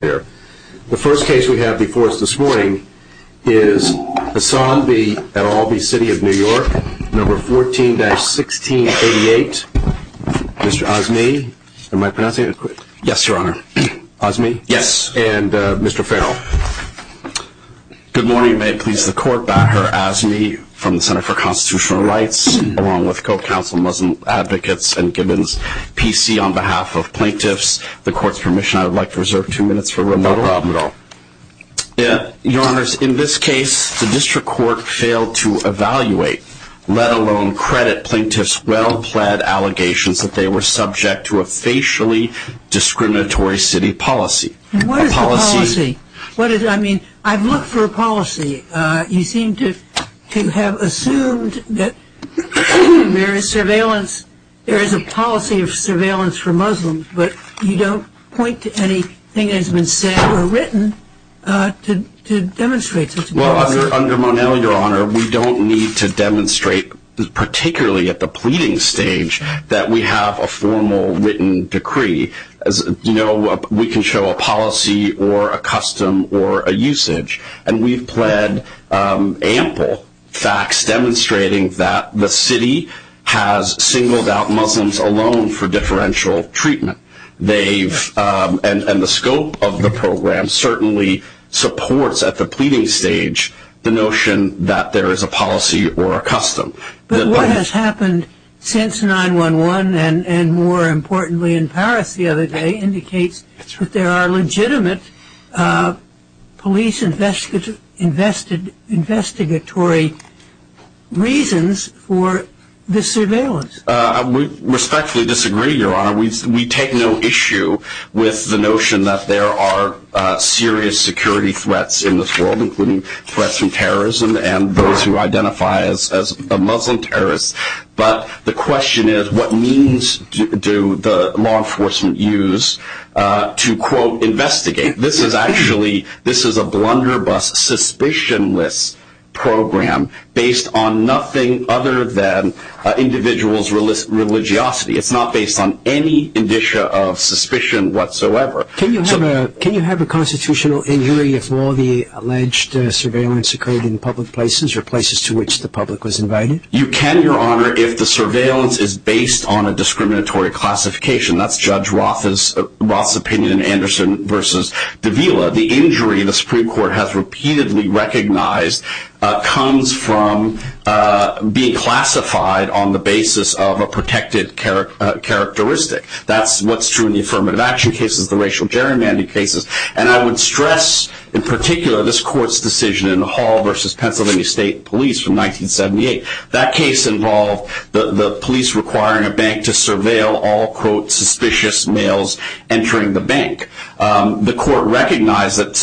The first case we have before us this morning is Hassan v. Atalby City of New York, No. 14-1688. Mr. Azmi, am I pronouncing it correct? Yes, Your Honor. Azmi? Yes. And Mr. Farrell? Good morning. May it please the Court, I am Azmi from the Center for Constitutional Rights, along with co-counsel Muslim Advocates and Gibbons, PC, on behalf of plaintiffs. With the Court's permission, I would like to reserve two minutes for remodeling. No problem at all. Your Honors, in this case, the District Court failed to evaluate, let alone credit, plaintiffs' well-plaid allegations that they were subject to a facially discriminatory city policy. What is the policy? I mean, I've looked for a policy. You seem to have assumed that there is a policy of surveillance for Muslims, but you don't point to anything that has been said or written to demonstrate such a policy. Well, under Monell, Your Honor, we don't need to demonstrate, particularly at the pleading stage, that we have a formal written decree. As you know, we can show a policy or a custom or a usage, and we've pled ample facts demonstrating that the city has singled out Muslims alone for differential treatment. And the scope of the program certainly supports, at the pleading stage, the notion that there is a policy or a custom. But what has happened since 9-1-1, and more importantly in Paris the other day, indicates that there are legitimate police investigatory reasons for this surveillance. We respectfully disagree, Your Honor. We take no issue with the notion that there are serious security threats in this world, including threats from terrorism and those who identify as Muslim terrorists. But the question is, what means do the law enforcement use to, quote, investigate? This is actually a blunderbuss, suspicionless program based on nothing other than individuals' religiosity. It's not based on any indicia of suspicion whatsoever. Can you have a constitutional injury if all the alleged surveillance occurred in public places or places to which the public was invited? You can, Your Honor, if the surveillance is based on a discriminatory classification. That's Judge Roth's opinion in Anderson v. Davila. The injury the Supreme Court has repeatedly recognized comes from being classified on the basis of a protected characteristic. That's what's true in the affirmative action cases, the racial gerrymandering cases. And I would stress, in particular, this Court's decision in Hall v. Pennsylvania State Police from 1978. That case involved the police requiring a bank to surveil all, quote, suspicious males entering the bank. The Court recognized that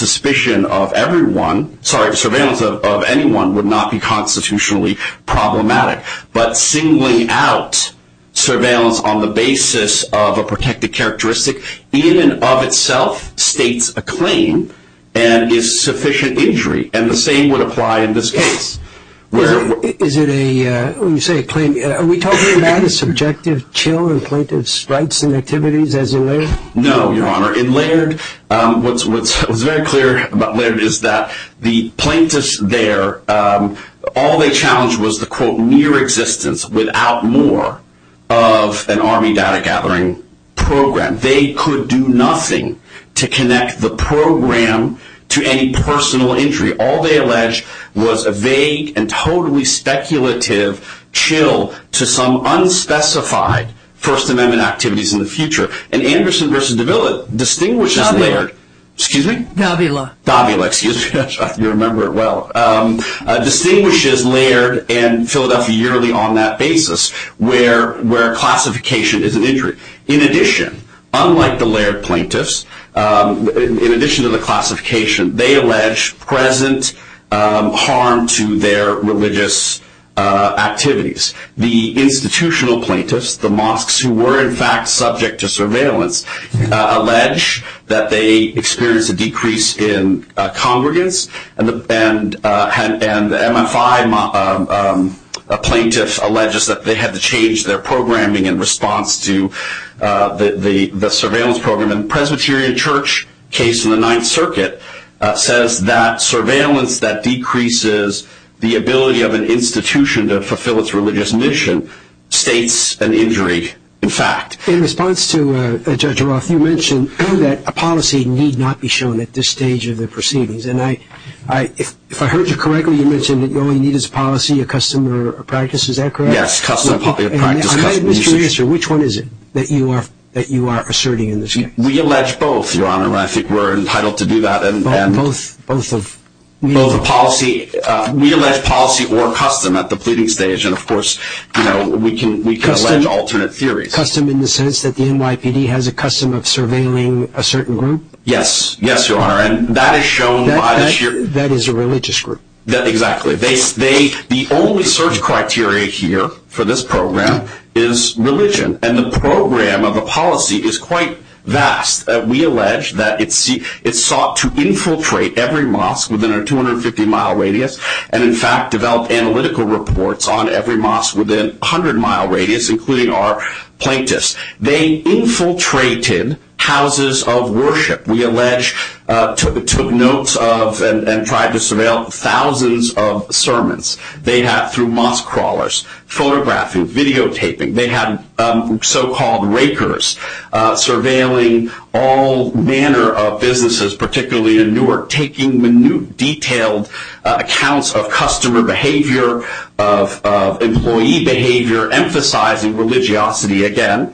surveillance of anyone would not be constitutionally problematic. But singling out surveillance on the basis of a protected characteristic in and of itself states a claim and is sufficient injury. And the same would apply in this case. Is it a, when you say a claim, are we talking about a subjective chill in plaintiff's rights and activities as in Laird? No, Your Honor. In Laird, what's very clear about Laird is that the plaintiffs there, all they challenged was the, quote, near existence without more of an Army data gathering program. They could do nothing to connect the program to any personal injury. All they alleged was a vague and totally speculative chill to some unspecified First Amendment activities in the future. And Anderson v. Davila distinguishes Laird. Davila. Excuse me? Davila. Davila, excuse me. I'm trying to remember it well. Distinguishes Laird and Philadelphia yearly on that basis where classification is an injury. In addition, unlike the Laird plaintiffs, in addition to the classification, they allege present harm to their religious activities. The institutional plaintiffs, the mosques who were in fact subject to surveillance, allege that they experienced a decrease in congregants. And the MFI plaintiffs allege that they had to change their programming in response to the surveillance program. And the Presbyterian Church case in the Ninth Circuit says that surveillance that decreases the ability of an institution to fulfill its religious mission states an injury in fact. In response to Judge Roth, you mentioned that a policy need not be shown at this stage of the proceedings. And if I heard you correctly, you mentioned that you only need as a policy a custom or a practice. Is that correct? Yes. Which one is it that you are asserting in this case? We allege both, Your Honor, and I think we're entitled to do that. Both of these? We allege policy or custom at the pleading stage. And, of course, we can allege alternate theories. Custom in the sense that the NYPD has a custom of surveilling a certain group? Yes, Your Honor. That is a religious group. Exactly. The only search criteria here for this program is religion. And the program of the policy is quite vast. We allege that it sought to infiltrate every mosque within a 250-mile radius and, in fact, developed analytical reports on every mosque within a 100-mile radius, including our plaintiffs. They infiltrated houses of worship. We allege took notes of and tried to surveil thousands of sermons. They had through mosque crawlers, photographing, videotaping. They had so-called rakers surveilling all manner of businesses, particularly in Newark, taking minute, detailed accounts of customer behavior, of employee behavior, emphasizing religiosity again.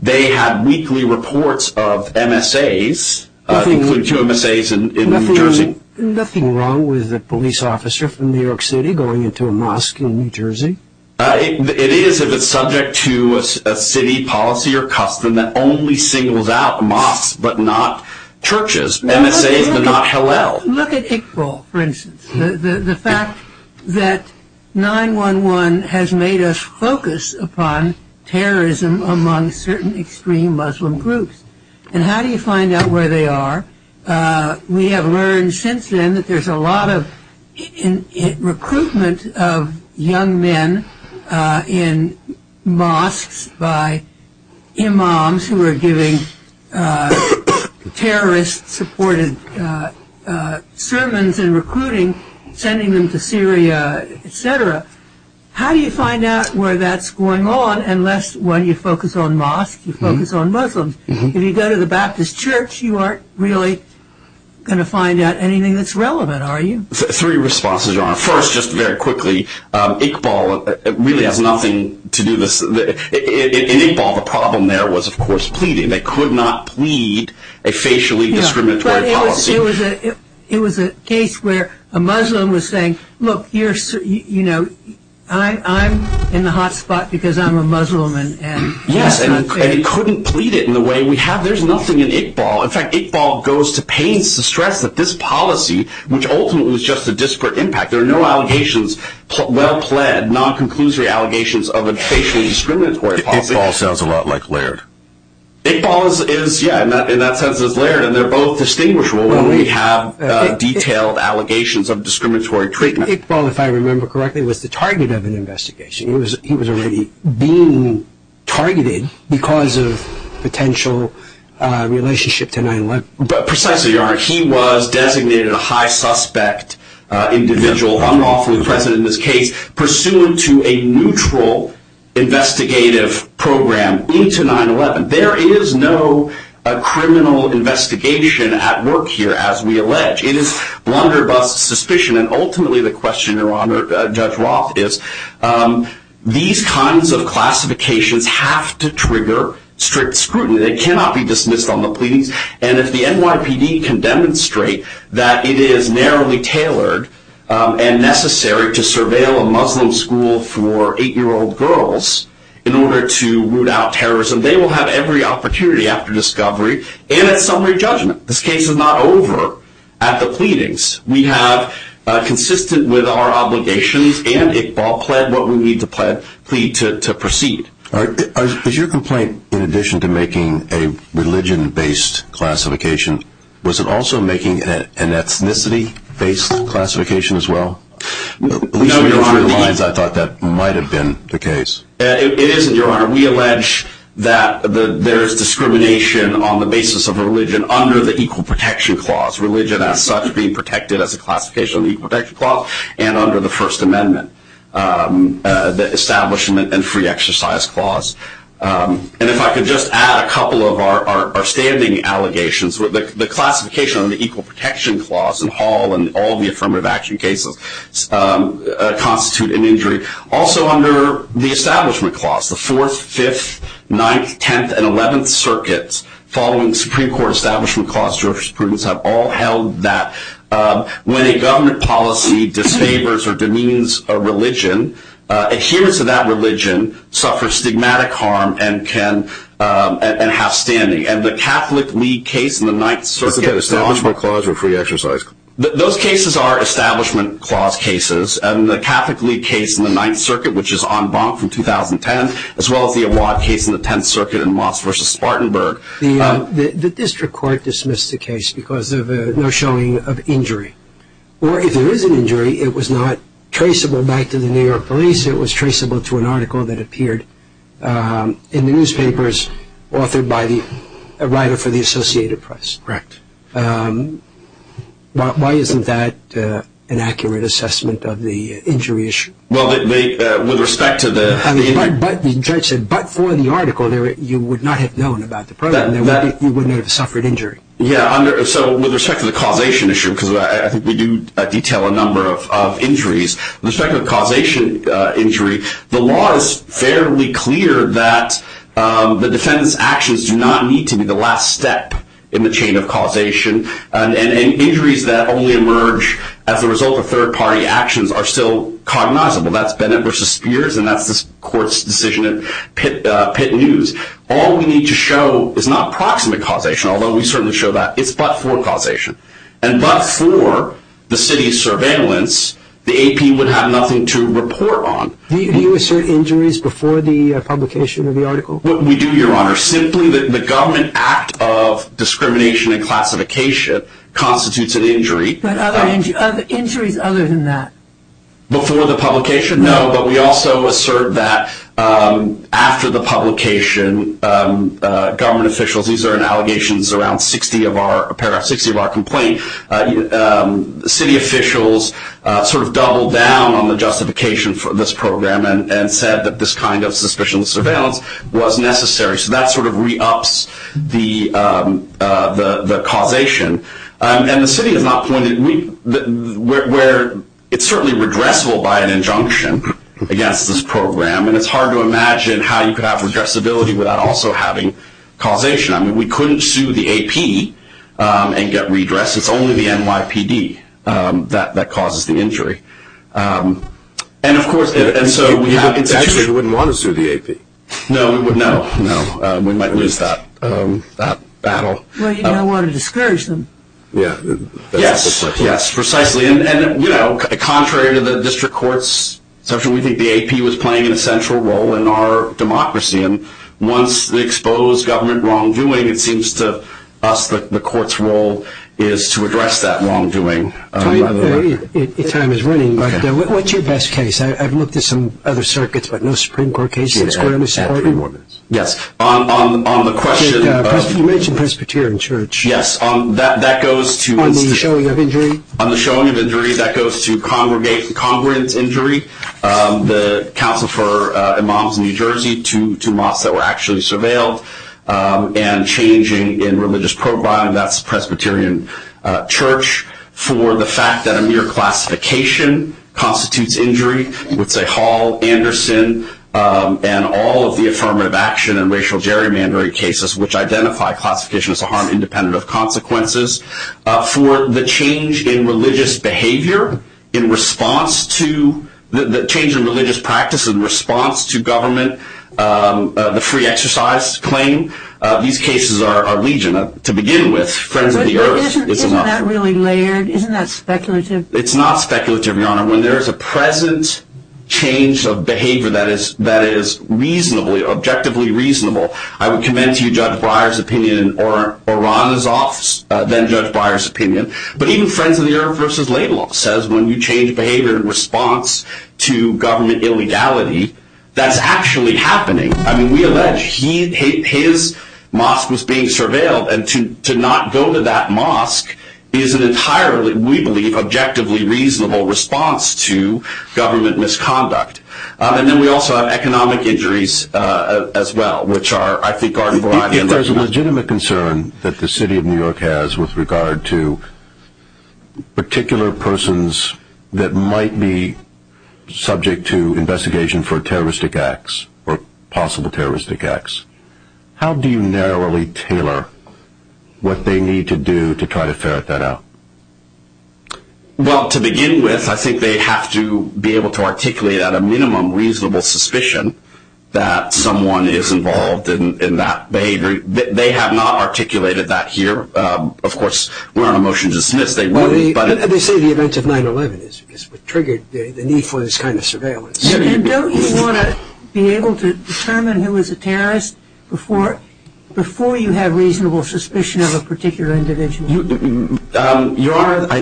They had weekly reports of MSAs, including two MSAs in New Jersey. Nothing wrong with a police officer from New York City going into a mosque in New Jersey? It is if it's subject to a city policy or custom that only singles out mosques but not churches, MSAs but not Hillel. Look at Iqbal, for instance, the fact that 9-1-1 has made us focus upon terrorism among certain extreme Muslim groups. And how do you find out where they are? We have learned since then that there's a lot of recruitment of young men in mosques by imams who are giving terrorist-supported sermons and recruiting, sending them to Syria, et cetera. How do you find out where that's going on unless, one, you focus on mosques, you focus on Muslims? If you go to the Baptist church, you aren't really going to find out anything that's relevant, are you? Three responses, John. First, just very quickly, Iqbal really has nothing to do with this. In Iqbal, the problem there was, of course, pleading. They could not plead a facially discriminatory policy. It was a case where a Muslim was saying, look, I'm in the hot spot because I'm a Muslim. Yes, and it couldn't plead it in the way we have. There's nothing in Iqbal. In fact, Iqbal goes to pains to stress that this policy, which ultimately was just a disparate impact, there are no allegations, well-pled, non-conclusory allegations of a facially discriminatory policy. Iqbal sounds a lot like Laird. Iqbal is, yeah, in that sense is Laird, and they're both distinguishable when we have detailed allegations of discriminatory treatment. Iqbal, if I remember correctly, was the target of an investigation. He was already being targeted because of potential relationship to 9-11. Precisely, Your Honor. He was designated a high-suspect individual, unlawfully present in this case, pursuant to a neutral investigative program into 9-11. There is no criminal investigation at work here, as we allege. It is blunderbuss suspicion. Ultimately, the question, Your Honor, Judge Roth, is these kinds of classifications have to trigger strict scrutiny. They cannot be dismissed on the pleadings. If the NYPD can demonstrate that it is narrowly tailored and necessary to surveil a Muslim school for 8-year-old girls in order to root out terrorism, they will have every opportunity after discovery and at summary judgment. This case is not over at the pleadings. We have, consistent with our obligations and Iqbal pled, what we need to plead to proceed. Is your complaint, in addition to making a religion-based classification, was it also making an ethnicity-based classification as well? No, Your Honor. At least in those three lines, I thought that might have been the case. It isn't, Your Honor. Your Honor, we allege that there is discrimination on the basis of religion under the Equal Protection Clause. Religion, as such, being protected as a classification of the Equal Protection Clause and under the First Amendment, the Establishment and Free Exercise Clause. And if I could just add a couple of our standing allegations. The classification of the Equal Protection Clause in Hall and all the affirmative action cases constitute an injury. Also under the Establishment Clause, the 4th, 5th, 9th, 10th, and 11th Circuits, following the Supreme Court Establishment Clause, jurisprudence have all held that when a government policy disfavors or demeans a religion, adherence to that religion suffers stigmatic harm and can have standing. And the Catholic League case in the 9th Circuit… Is it the Establishment Clause or Free Exercise Clause? Those cases are Establishment Clause cases. And the Catholic League case in the 9th Circuit, which is en banc from 2010, as well as the Awad case in the 10th Circuit in Moss v. Spartanburg. The district court dismissed the case because of no showing of injury. Or if there is an injury, it was not traceable back to the New York police. It was traceable to an article that appeared in the newspapers authored by a writer for the Associated Press. Correct. Why isn't that an accurate assessment of the injury issue? Well, with respect to the… The judge said, but for the article, you would not have known about the problem. You wouldn't have suffered injury. Yeah, so with respect to the causation issue, because I think we do detail a number of injuries, with respect to the causation injury, the law is fairly clear that the defendant's actions do not need to be the last step in the chain of causation. And injuries that only emerge as a result of third-party actions are still cognizable. That's Bennett v. Spears, and that's this court's decision in Pitt News. All we need to show is not proximate causation, although we certainly show that it's but-for causation. And but-for the city's surveillance, the AP would have nothing to report on. Do you assert injuries before the publication of the article? We do, Your Honor. Simply, the government act of discrimination and classification constitutes an injury. But injuries other than that? Before the publication, no. But we also assert that after the publication, government officials, these are in allegations around 60 of our complaints, city officials sort of doubled down on the justification for this program and said that this kind of suspicionless surveillance was necessary. So that sort of re-ups the causation. And the city has not pointed, where it's certainly redressable by an injunction against this program, and it's hard to imagine how you could have redressability without also having causation. I mean, we couldn't sue the AP and get redress. It's only the NYPD that causes the injury. And, of course, and so we have the situation. You wouldn't want to sue the AP. No, no, no. We might lose that battle. Well, you don't want to discourage them. Yes, yes, precisely. And, you know, contrary to the district court's assumption, we think the AP was playing an essential role in our democracy. And once they expose government wrongdoing, it seems to us that the court's role is to address that wrongdoing. Your time is running. What's your best case? I've looked at some other circuits, but no Supreme Court cases. Yes. You mentioned Presbyterian Church. Yes. On the showing of injury? On the showing of injury, that goes to congregant injury. The council for imams in New Jersey, two mosques that were actually surveilled, and changing in religious programming, that's Presbyterian Church. For the fact that a mere classification constitutes injury, I would say Hall, Anderson, and all of the affirmative action and racial gerrymandering cases, which identify classification as a harm independent of consequences. For the change in religious behavior, the change in religious practice in response to government, the free exercise claim, these cases are legion. To begin with, Friends of the Earth is enough. Isn't that really layered? Isn't that speculative? It's not speculative, Your Honor. When there is a present change of behavior that is reasonably, objectively reasonable, I would commend to you Judge Breyer's opinion, or Ron is off, then Judge Breyer's opinion, but even Friends of the Earth v. Laidlaw says when you change behavior in response to government illegality, that's actually happening. I mean, we allege his mosque was being surveilled, and to not go to that mosque is an entirely, we believe, objectively reasonable response to government misconduct. And then we also have economic injuries as well, which I think are a variety. If there's a legitimate concern that the City of New York has with regard to particular persons that might be subject to investigation for terroristic acts or possible terroristic acts, how do you narrowly tailor what they need to do to try to ferret that out? Well, to begin with, I think they have to be able to articulate at a minimum reasonable suspicion that someone is involved in that behavior. They have not articulated that here. Of course, we're on a motion to dismiss. They say the events of 9-11 is what triggered the need for this kind of surveillance. And don't you want to be able to determine who is a terrorist before you have reasonable suspicion of a particular individual? Your Honor,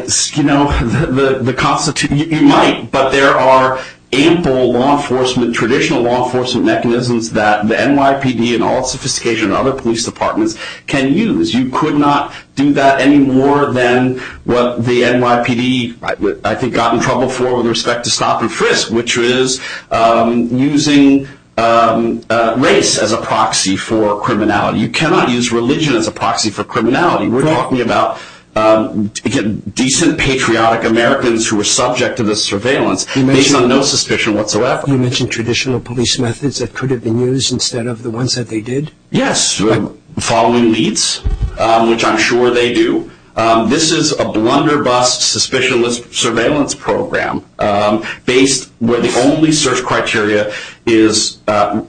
you might, but there are ample traditional law enforcement mechanisms that the NYPD in all its sophistication and other police departments can use. You could not do that any more than what the NYPD, I think, got in trouble for with respect to stop and frisk, which is using race as a proxy for criminality. You cannot use religion as a proxy for criminality. We're talking about, again, decent patriotic Americans who are subject to this surveillance based on no suspicion whatsoever. You mentioned traditional police methods that could have been used instead of the ones that they did? Yes, following leads, which I'm sure they do. This is a blunderbuss, suspicionless surveillance program based where the only search criteria is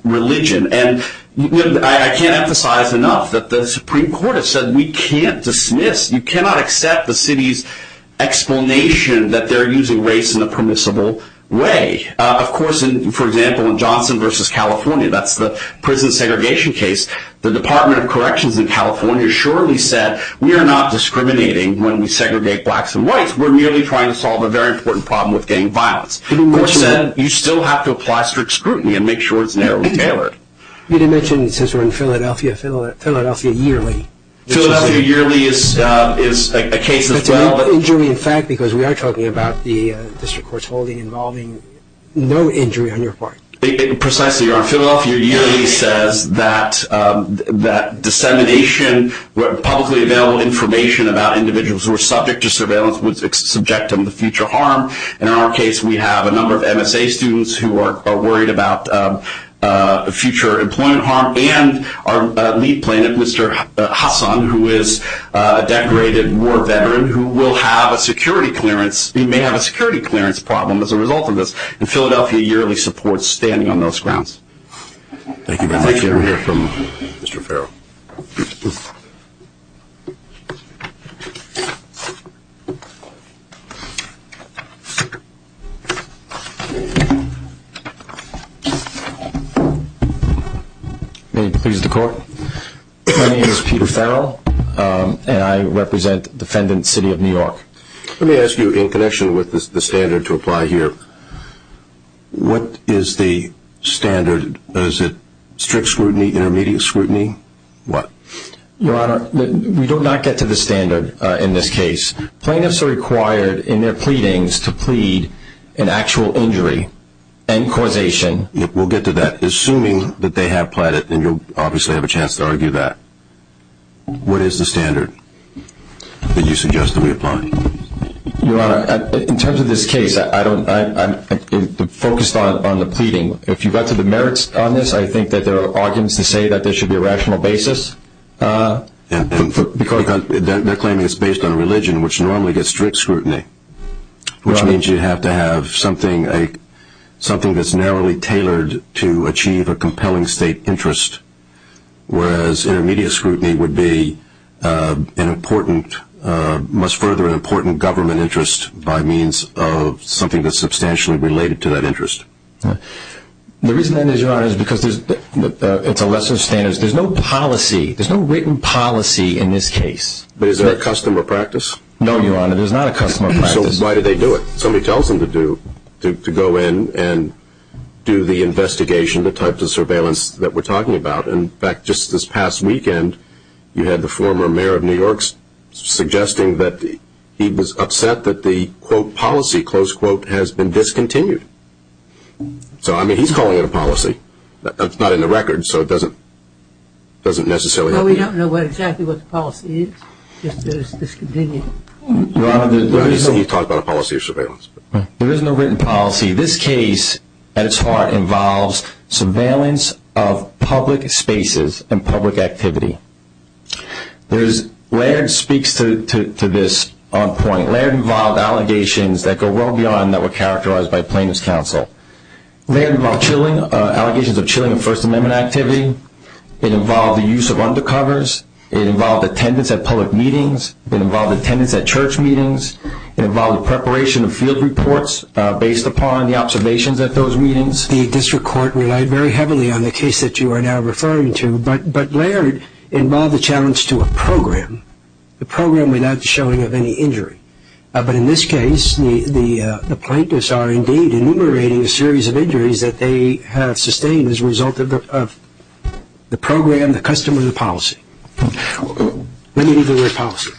religion. And I can't emphasize enough that the Supreme Court has said we can't dismiss, you cannot accept the city's explanation that they're using race in a permissible way. Of course, for example, in Johnson v. California, that's the prison segregation case, the Department of Corrections in California surely said we are not discriminating when we segregate blacks and whites, we're merely trying to solve a very important problem with gang violence. Which said, you still have to apply strict scrutiny and make sure it's narrowly tailored. You mentioned, since we're in Philadelphia, Philadelphia Yearly. Philadelphia Yearly is a case as well. That's an injury, in fact, because we are talking about the district court's holding involving no injury on your part. Precisely, you're on Philadelphia Yearly, says that dissemination, publicly available information about individuals who are subject to surveillance would subject them to future harm. In our case, we have a number of MSA students who are worried about future employment harm and our lead plaintiff, Mr. Hassan, who is a decorated war veteran who may have a security clearance problem as a result of this. And Philadelphia Yearly supports standing on those grounds. Thank you very much. We'll hear from Mr. Farrell. May it please the court. My name is Peter Farrell, and I represent defendant, City of New York. Let me ask you, in connection with the standard to apply here, what is the standard? Is it strict scrutiny, intermediate scrutiny, what? Your Honor, we do not get to the standard in this case. Plaintiffs are required in their pleadings to plead an actual injury. We'll get to that. Assuming that they have pleaded, and you'll obviously have a chance to argue that, what is the standard that you suggest that we apply? Your Honor, in terms of this case, I'm focused on the pleading. If you got to the merits on this, I think that there are arguments to say that there should be a rational basis. They're claiming it's based on religion, which normally gets strict scrutiny, which means you'd have to have something that's narrowly tailored to achieve a compelling state interest, whereas intermediate scrutiny would be an important, must further an important government interest by means of something that's substantially related to that interest. The reason that is, Your Honor, is because it's a lesser standard. There's no policy. There's no written policy in this case. But is there a custom or practice? No, Your Honor. There's not a custom or practice. So why did they do it? Somebody tells them to go in and do the investigation, the type of surveillance that we're talking about. In fact, just this past weekend, you had the former mayor of New York suggesting that he was upset that the, quote, policy, close quote, has been discontinued. So, I mean, he's calling it a policy. It's not in the record, so it doesn't necessarily help. No, we don't know exactly what the policy is. Just that it's discontinued. Your Honor, there is no. He's talking about a policy of surveillance. There is no written policy. This case, at its heart, involves surveillance of public spaces and public activity. There's, Laird speaks to this on point. Laird involved allegations that go well beyond that were characterized by plaintiff's counsel. Laird involved allegations of chilling of First Amendment activity. It involved the use of undercovers. It involved attendance at public meetings. It involved attendance at church meetings. It involved preparation of field reports based upon the observations at those meetings. The district court relied very heavily on the case that you are now referring to, but Laird involved a challenge to a program, a program without the showing of any injury. But in this case, the plaintiffs are indeed enumerating a series of injuries that they have sustained as a result of the program, the custom, or the policy. Let me read the word policy.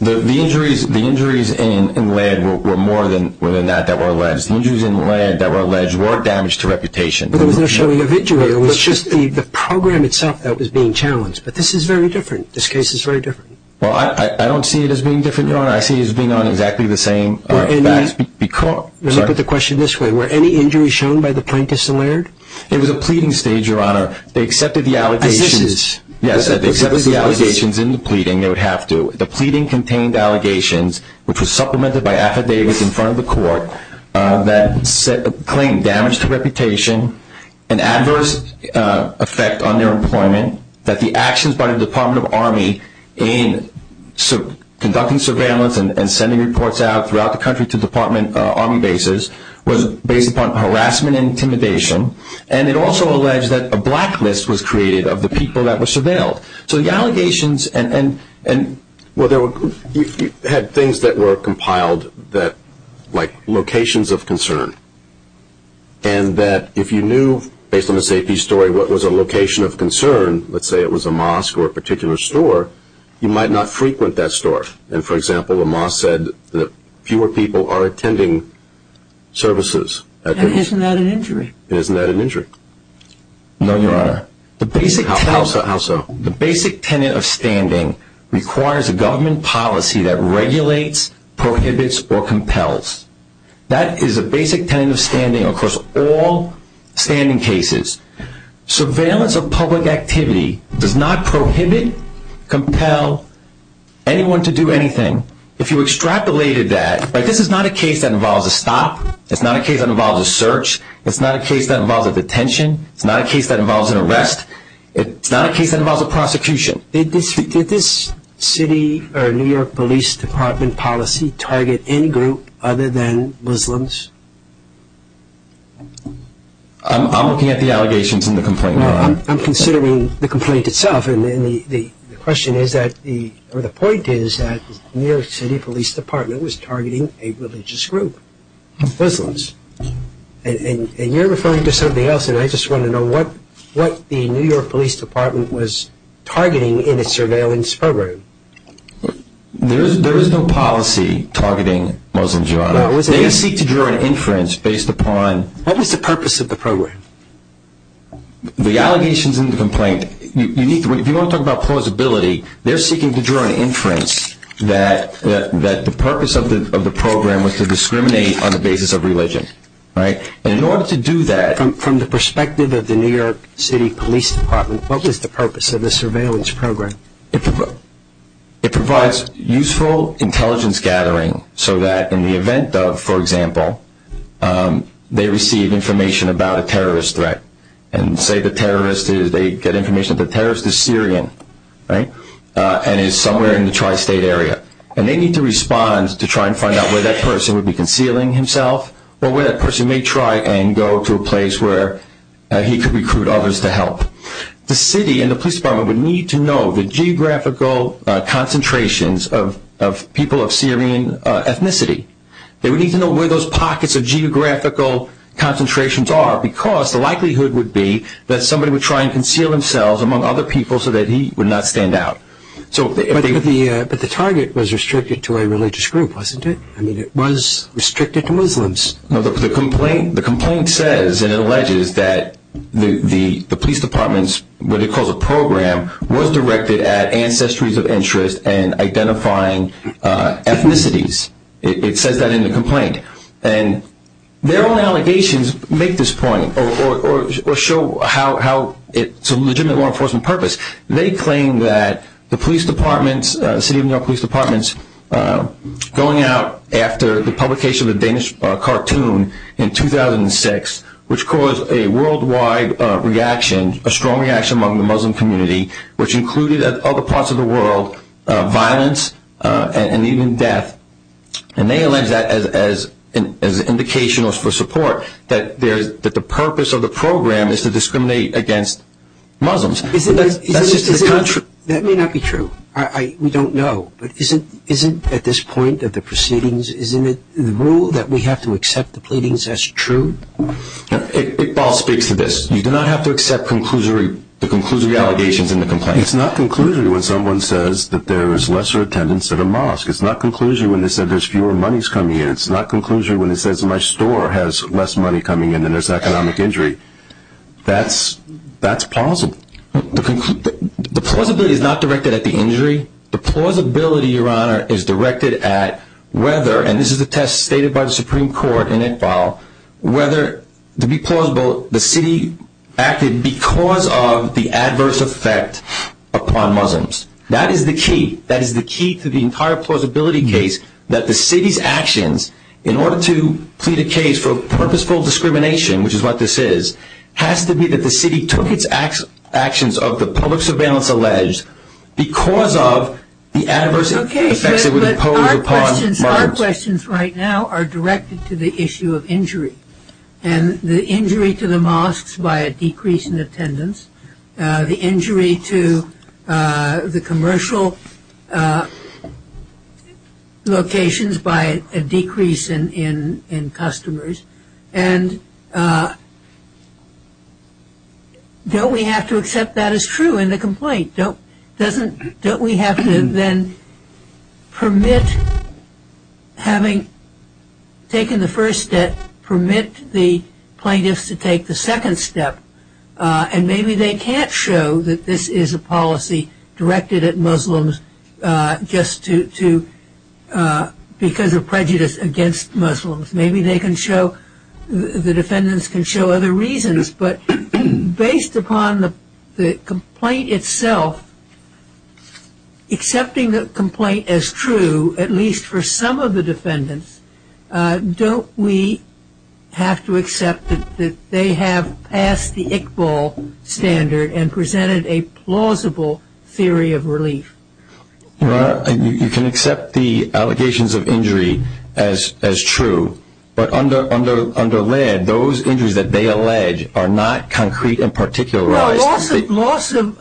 The injuries in Laird were more than that that were alleged. The injuries in Laird that were alleged were damage to reputation. But there was no showing of injury. It was just the program itself that was being challenged. But this is very different. This case is very different. Well, I don't see it as being different, Your Honor. I see it as being on exactly the same facts. Let me put the question this way. Were any injuries shown by the plaintiffs in Laird? It was a pleading stage, Your Honor. They accepted the allegations. Assessors. Yes, they accepted the allegations in the pleading. They would have to. The pleading contained allegations which were supplemented by affidavits in front of the court that claimed damage to reputation, an adverse effect on their employment, that the actions by the Department of Army in conducting surveillance and sending reports out throughout the country to the Department of Army bases was based upon harassment and intimidation. And it also alleged that a blacklist was created of the people that were surveilled. So the allegations and – Well, you had things that were compiled like locations of concern. And that if you knew, based on the safety story, what was a location of concern, let's say it was a mosque or a particular store, you might not frequent that store. And, for example, a mosque said that fewer people are attending services. Isn't that an injury? Isn't that an injury? No, Your Honor. How so? The basic tenet of standing requires a government policy that regulates, prohibits, or compels. That is a basic tenet of standing across all standing cases. Surveillance of public activity does not prohibit, compel anyone to do anything. If you extrapolated that, this is not a case that involves a stop. It's not a case that involves a search. It's not a case that involves a detention. It's not a case that involves an arrest. It's not a case that involves a prosecution. Did this city or New York Police Department policy target any group other than Muslims? I'm looking at the allegations in the complaint, Your Honor. I'm considering the complaint itself. And the question is that, or the point is that New York City Police Department was targeting a religious group, Muslims. And you're referring to something else, and I just want to know what the New York Police Department was targeting in its surveillance program. They seek to draw an inference based upon... What was the purpose of the program? The allegations in the complaint, if you want to talk about plausibility, they're seeking to draw an inference that the purpose of the program was to discriminate on the basis of religion. And in order to do that... From the perspective of the New York City Police Department, what was the purpose of the surveillance program? It provides useful intelligence gathering so that in the event of, for example, they receive information about a terrorist threat. And say the terrorist is, they get information that the terrorist is Syrian, right? And is somewhere in the tri-state area. And they need to respond to try and find out where that person would be concealing himself or where that person may try and go to a place where he could recruit others to help. The city and the police department would need to know the geographical concentrations of people of Syrian ethnicity. They would need to know where those pockets of geographical concentrations are because the likelihood would be that somebody would try and conceal themselves among other people so that he would not stand out. But the target was restricted to a religious group, wasn't it? I mean, it was restricted to Muslims. The complaint says and alleges that the police department's, what it calls a program, was directed at ancestries of interest and identifying ethnicities. It says that in the complaint. And their own allegations make this point or show how it's a legitimate law enforcement purpose. They claim that the police department's, the city of New York police department's, going out after the publication of the Danish cartoon in 2006, which caused a worldwide reaction, a strong reaction among the Muslim community, which included at other parts of the world violence and even death. And they allege that as an indication or for support that the purpose of the program is to discriminate against Muslims. That may not be true. We don't know. But isn't at this point of the proceedings, isn't it the rule that we have to accept the pleadings as true? Iqbal speaks to this. You do not have to accept the conclusory allegations in the complaint. It's not conclusory when someone says that there is lesser attendance at a mosque. It's not conclusory when they say there's fewer monies coming in. It's not conclusory when they say my store has less money coming in and there's economic injury. That's plausible. The plausibility is not directed at the injury. The plausibility, Your Honor, is directed at whether, and this is a test stated by the Supreme Court in Iqbal, whether to be plausible the city acted because of the adverse effect upon Muslims. That is the key. That is the key to the entire plausibility case that the city's actions in order to plead a case for purposeful discrimination, which is what this is, has to be that the city took its actions of the public surveillance alleged because of the adverse effects that were imposed upon Muslims. Okay, but our questions right now are directed to the issue of injury, and the injury to the mosques by a decrease in attendance, the injury to the commercial locations by a decrease in customers, and don't we have to accept that as true in the complaint? Don't we have to then permit having taken the first step, permit the plaintiffs to take the second step, and maybe they can't show that this is a policy directed at Muslims just because of prejudice against Muslims. Maybe they can show, the defendants can show other reasons, but based upon the complaint itself, accepting the complaint as true, at least for some of the defendants, don't we have to accept that they have passed the Iqbal standard and presented a plausible theory of relief? Your Honor, you can accept the allegations of injury as true, but under land, those injuries that they allege are not concrete and particularized. Loss of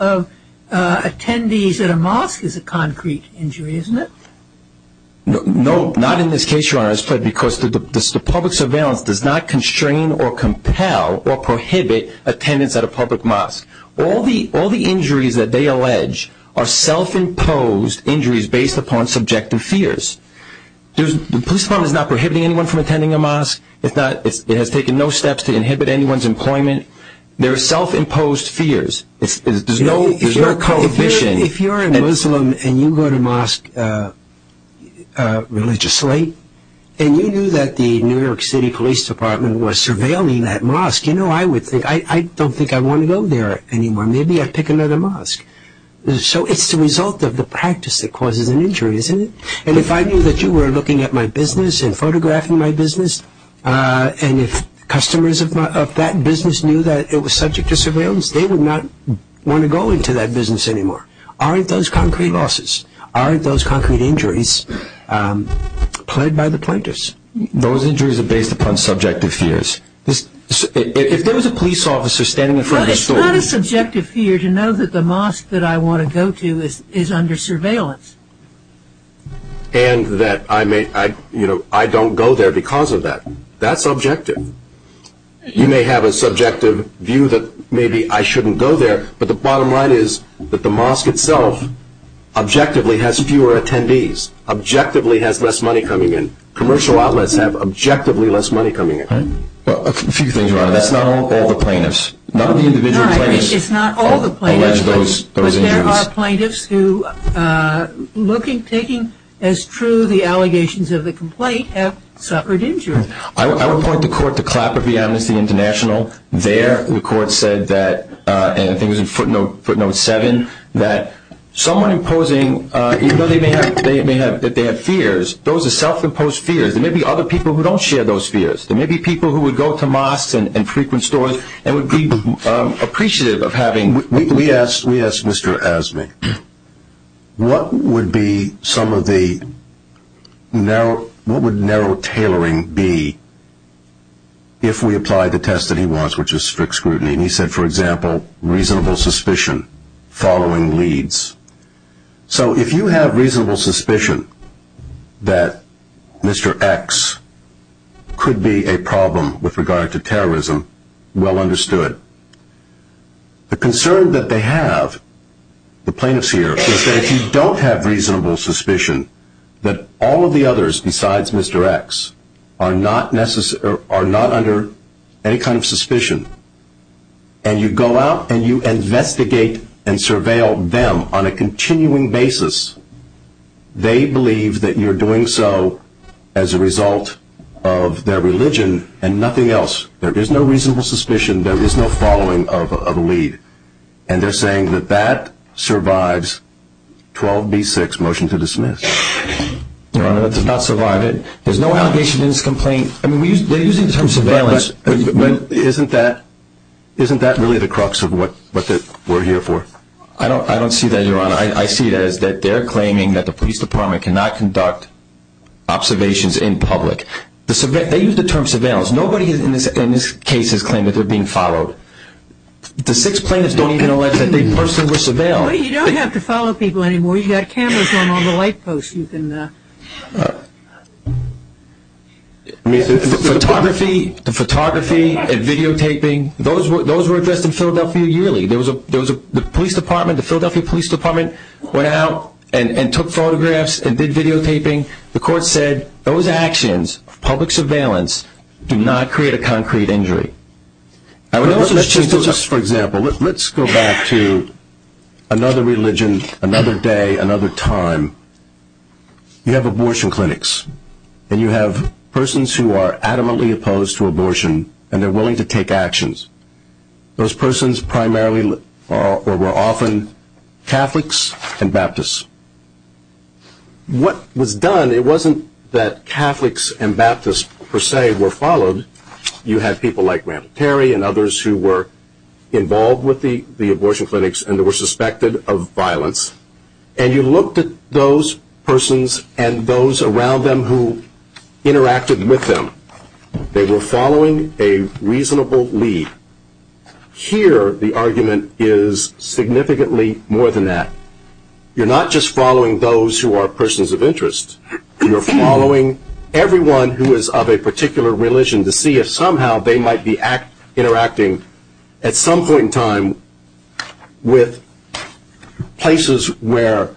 attendees at a mosque is a concrete injury, isn't it? No, not in this case, Your Honor, because the public surveillance does not constrain or compel or prohibit attendance at a public mosque. All the injuries that they allege are self-imposed injuries based upon subjective fears. The police department is not prohibiting anyone from attending a mosque. It has taken no steps to inhibit anyone's employment. They're self-imposed fears. If you're a Muslim and you go to a mosque religiously, and you knew that the New York City Police Department was surveilling that mosque, you know, I don't think I want to go there anymore. Maybe I pick another mosque. So it's the result of the practice that causes an injury, isn't it? And if I knew that you were looking at my business and photographing my business, and if customers of that business knew that it was subject to surveillance, they would not want to go into that business anymore. Aren't those concrete losses? Aren't those concrete injuries pled by the plaintiffs? Those injuries are based upon subjective fears. If there was a police officer standing in front of the store... But it's not a subjective fear to know that the mosque that I want to go to is under surveillance. And that I don't go there because of that. That's subjective. You may have a subjective view that maybe I shouldn't go there, but the bottom line is that the mosque itself objectively has fewer attendees, objectively has less money coming in. Commercial outlets have objectively less money coming in. A few things, Ronna. That's not all the plaintiffs. None of the individual plaintiffs allege those injuries. It's not all the plaintiffs, but there are plaintiffs who, taking as true the allegations of the complaint, have suffered injuries. I would point the court to Clapper v. Amnesty International. There the court said that, and I think it was in footnote 7, that someone imposing, even though they may have fears, those are self-imposed fears. There may be other people who don't share those fears. There may be people who would go to mosques and frequent stores and would be appreciative of having... We asked Mr. Azmi, what would narrow tailoring be if we applied the test that he wants, which is strict scrutiny? And he said, for example, reasonable suspicion following leads. So if you have reasonable suspicion that Mr. X could be a problem with regard to terrorism, well understood. The concern that they have, the plaintiffs here, is that if you don't have reasonable suspicion, that all of the others besides Mr. X are not under any kind of suspicion, and you go out and you investigate and surveil them on a continuing basis, they believe that you're doing so as a result of their religion and nothing else. There is no reasonable suspicion. There is no following of a lead. And they're saying that that survives 12b-6, motion to dismiss. No, that's not survived. There's no allegation in this complaint. I mean, they're using the term surveillance. But isn't that really the crux of what we're here for? I don't see that, Your Honor. I see it as that they're claiming that the police department cannot conduct observations in public. They use the term surveillance. Nobody in this case has claimed that they're being followed. The six plaintiffs don't even allege that they personally were surveilled. Well, you don't have to follow people anymore. You've got cameras on all the light posts. Photography and videotaping, those were addressed in Philadelphia yearly. The Philadelphia Police Department went out and took photographs and did videotaping. The court said those actions of public surveillance do not create a concrete injury. For example, let's go back to another religion, another day, another time. You have abortion clinics and you have persons who are adamantly opposed to abortion and they're willing to take actions. Those persons primarily or were often Catholics and Baptists. What was done, it wasn't that Catholics and Baptists per se were followed. You have people like Randall Terry and others who were involved with the abortion clinics and they were suspected of violence. And you looked at those persons and those around them who interacted with them. They were following a reasonable lead. Here, the argument is significantly more than that. You're following everyone who is of a particular religion to see if somehow they might be interacting at some point in time with places where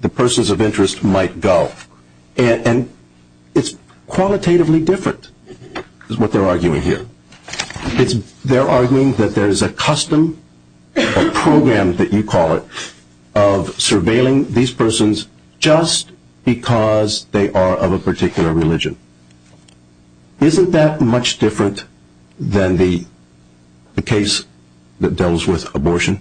the persons of interest might go. And it's qualitatively different is what they're arguing here. They're arguing that there's a custom, a program that you call it, of surveilling these persons just because they are of a particular religion. Isn't that much different than the case that deals with abortion?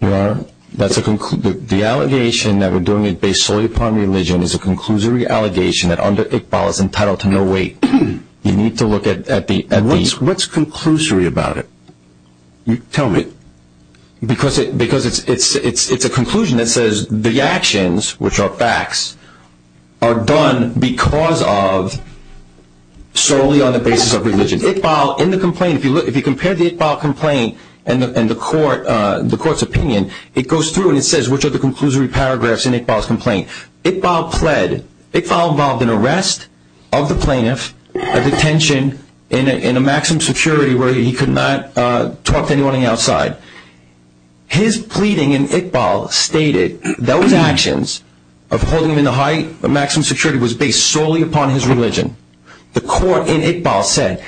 Your Honor, the allegation that we're doing it based solely upon religion is a conclusory allegation that under Iqbal it's entitled to no weight. You need to look at these. What's conclusory about it? Tell me. Because it's a conclusion that says the actions, which are facts, are done because of solely on the basis of religion. Iqbal, in the complaint, if you compare the Iqbal complaint and the court's opinion, it goes through and it says which are the conclusory paragraphs in Iqbal's complaint. Iqbal fled. Iqbal involved an arrest of the plaintiff, a detention, in a maximum security where he could not talk to anyone on the outside. His pleading in Iqbal stated those actions of holding him in a maximum security was based solely upon his religion. The court in Iqbal said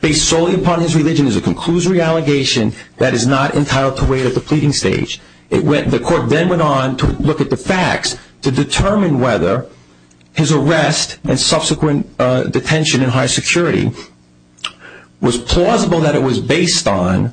based solely upon his religion is a conclusory allegation that is not entitled to weight at the pleading stage. The court then went on to look at the facts to determine whether his arrest and subsequent detention in high security was plausible that it was based on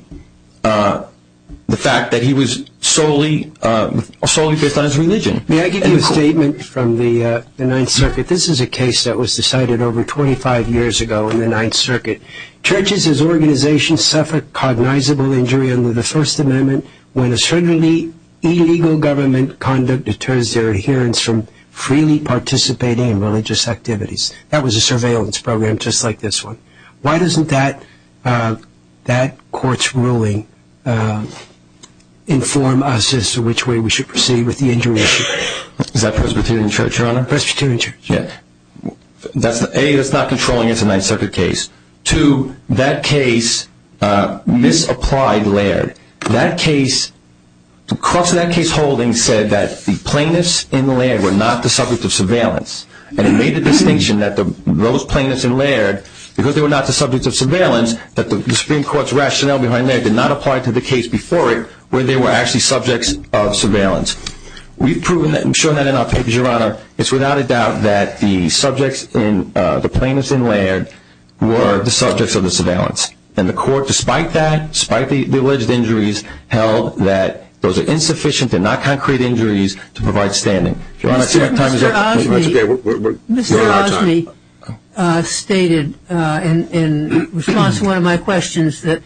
the fact that he was solely based on his religion. May I give you a statement from the Ninth Circuit? This is a case that was decided over 25 years ago in the Ninth Circuit. Churches as organizations suffer cognizable injury under the First Amendment when a certainly illegal government conduct deters their adherents from freely participating in religious activities. That was a surveillance program just like this one. Why doesn't that court's ruling inform us as to which way we should proceed with the injury issue? Is that Presbyterian Church, Your Honor? Presbyterian Church. A, that's not controlling it. It's a Ninth Circuit case. Two, that case misapplied Laird. The cross of that case holding said that the plaintiffs in Laird were not the subject of surveillance. And it made the distinction that those plaintiffs in Laird, because they were not the subject of surveillance, that the Supreme Court's rationale behind Laird did not apply to the case before it where they were actually subjects of surveillance. We've shown that in our papers, Your Honor. It's without a doubt that the plaintiffs in Laird were the subjects of the surveillance. And the court, despite that, despite the alleged injuries, held that those are insufficient and not concrete injuries to provide standing. Your Honor, I see my time is up. Mr. Osme stated in response to one of my questions that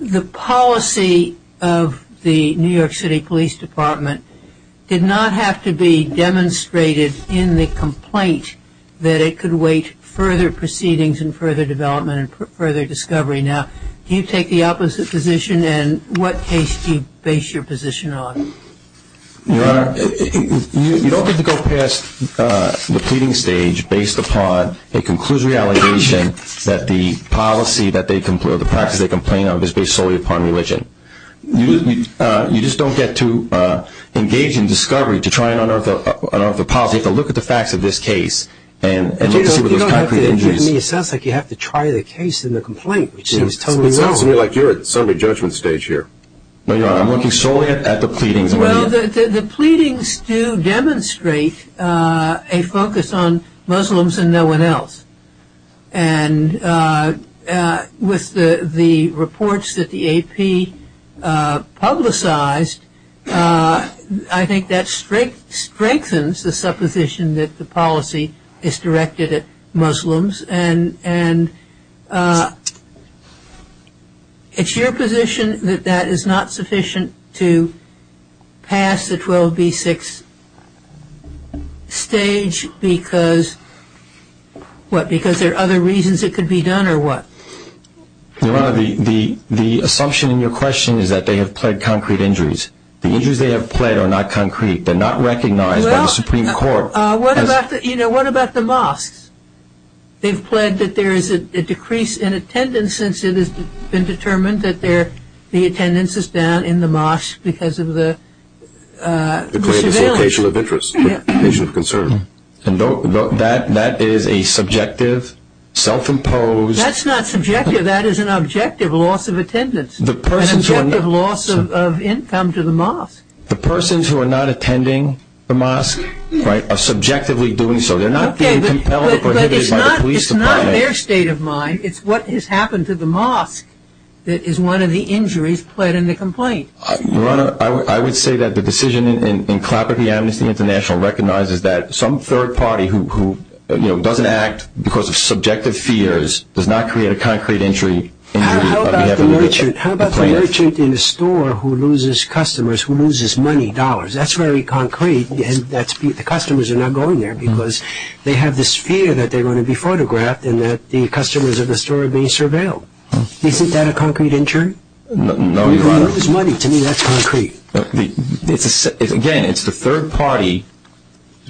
the policy of the New York City Police Department did not have to be demonstrated in the complaint that it could wait further proceedings and further development and further discovery. Now, can you take the opposite position? And what case do you base your position on? Your Honor, you don't get to go past the pleading stage based upon a conclusory allegation that the policy or the practice they complain of is based solely upon religion. You just don't get to engage in discovery to try and unearth the policy. You have to look at the facts of this case and look to see what those concrete injuries are. It sounds like you have to try the case in the complaint, which seems totally wrong. It sounds to me like you're at some re-judgment stage here. No, Your Honor, I'm looking solely at the pleadings. Well, the pleadings do demonstrate a focus on Muslims and no one else. And with the reports that the AP publicized, I think that strengthens the supposition that the policy is directed at Muslims. And it's your position that that is not sufficient to pass the 12B6 stage because, what, because there are other reasons it could be done or what? Your Honor, the assumption in your question is that they have pled concrete injuries. The injuries they have pled are not concrete. They're not recognized by the Supreme Court. Well, what about the mosques? They've pled that there is a decrease in attendance since it has been determined that the attendance is down in the mosque because of the surveillance. Declared a dislocation of interest, dislocation of concern. And that is a subjective, self-imposed That's not subjective. That is an objective loss of attendance, an objective loss of income to the mosque. The persons who are not attending the mosque are subjectively doing so. They're not being compelled or prohibited by the police department. Okay, but it's not their state of mind. It's what has happened to the mosque that is one of the injuries pled in the complaint. Your Honor, I would say that the decision in Clapper v. Amnesty International recognizes that some third party who, you know, doesn't act because of subjective fears does not create a concrete injury. How about the merchant in a store who loses customers, who loses money, dollars? That's very concrete, and the customers are not going there because they have this fear that they're going to be photographed and that the customers of the store are being surveilled. Isn't that a concrete injury? No, Your Honor. When you lose money, to me, that's concrete. Again, it's the third party,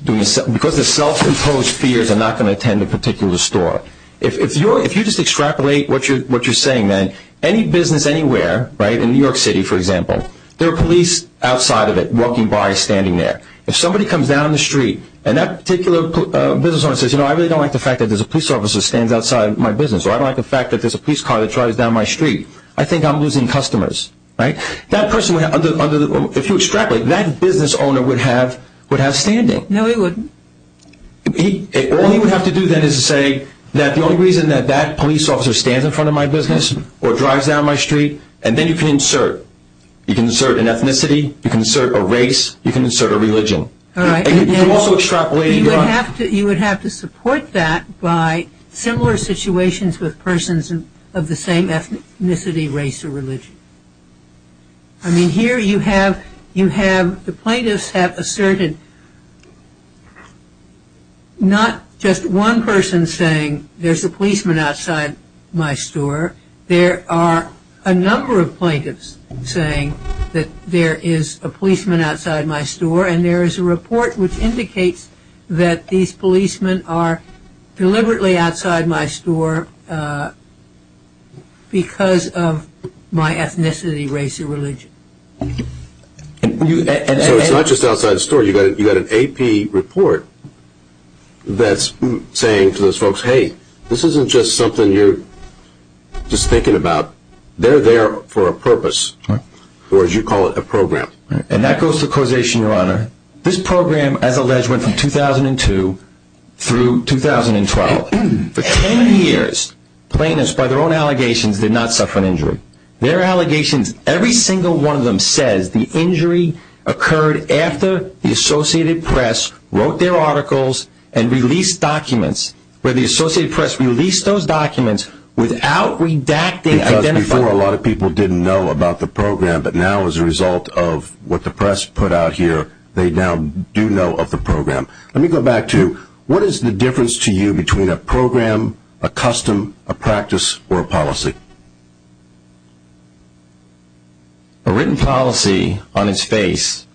because of self-imposed fears, are not going to attend a particular store. If you just extrapolate what you're saying, then, any business anywhere, right, in New York City, for example, there are police outside of it, walking by, standing there. If somebody comes down the street, and that particular business owner says, you know, I really don't like the fact that there's a police officer who stands outside my business, or I don't like the fact that there's a police car that drives down my street, I think I'm losing customers. Right? That person, if you extrapolate, that business owner would have standing. No, he wouldn't. All he would have to do, then, is say that the only reason that that police officer stands in front of my business or drives down my street, and then you can insert. You can insert an ethnicity. You can insert a race. You can insert a religion. All right. You would have to support that by similar situations with persons of the same ethnicity, race, or religion. I mean, here you have the plaintiffs have asserted not just one person saying, there's a policeman outside my store. There are a number of plaintiffs saying that there is a policeman outside my store, and there is a report which indicates that these policemen are deliberately outside my store because of my ethnicity, race, or religion. So it's not just outside the store. You've got an AP report that's saying to those folks, hey, this isn't just something you're just thinking about. They're there for a purpose, or as you call it, a program. And that goes to causation, Your Honor. This program, as alleged, went from 2002 through 2012. For 10 years, plaintiffs, by their own allegations, did not suffer an injury. Their allegations, every single one of them says the injury occurred after the Associated Press wrote their articles and released documents, where the Associated Press released those documents without redacting, identifying. Because before a lot of people didn't know about the program, but now as a result of what the press put out here, they now do know of the program. Let me go back to what is the difference to you between a program, a custom, a practice, or a policy? A written policy on its face,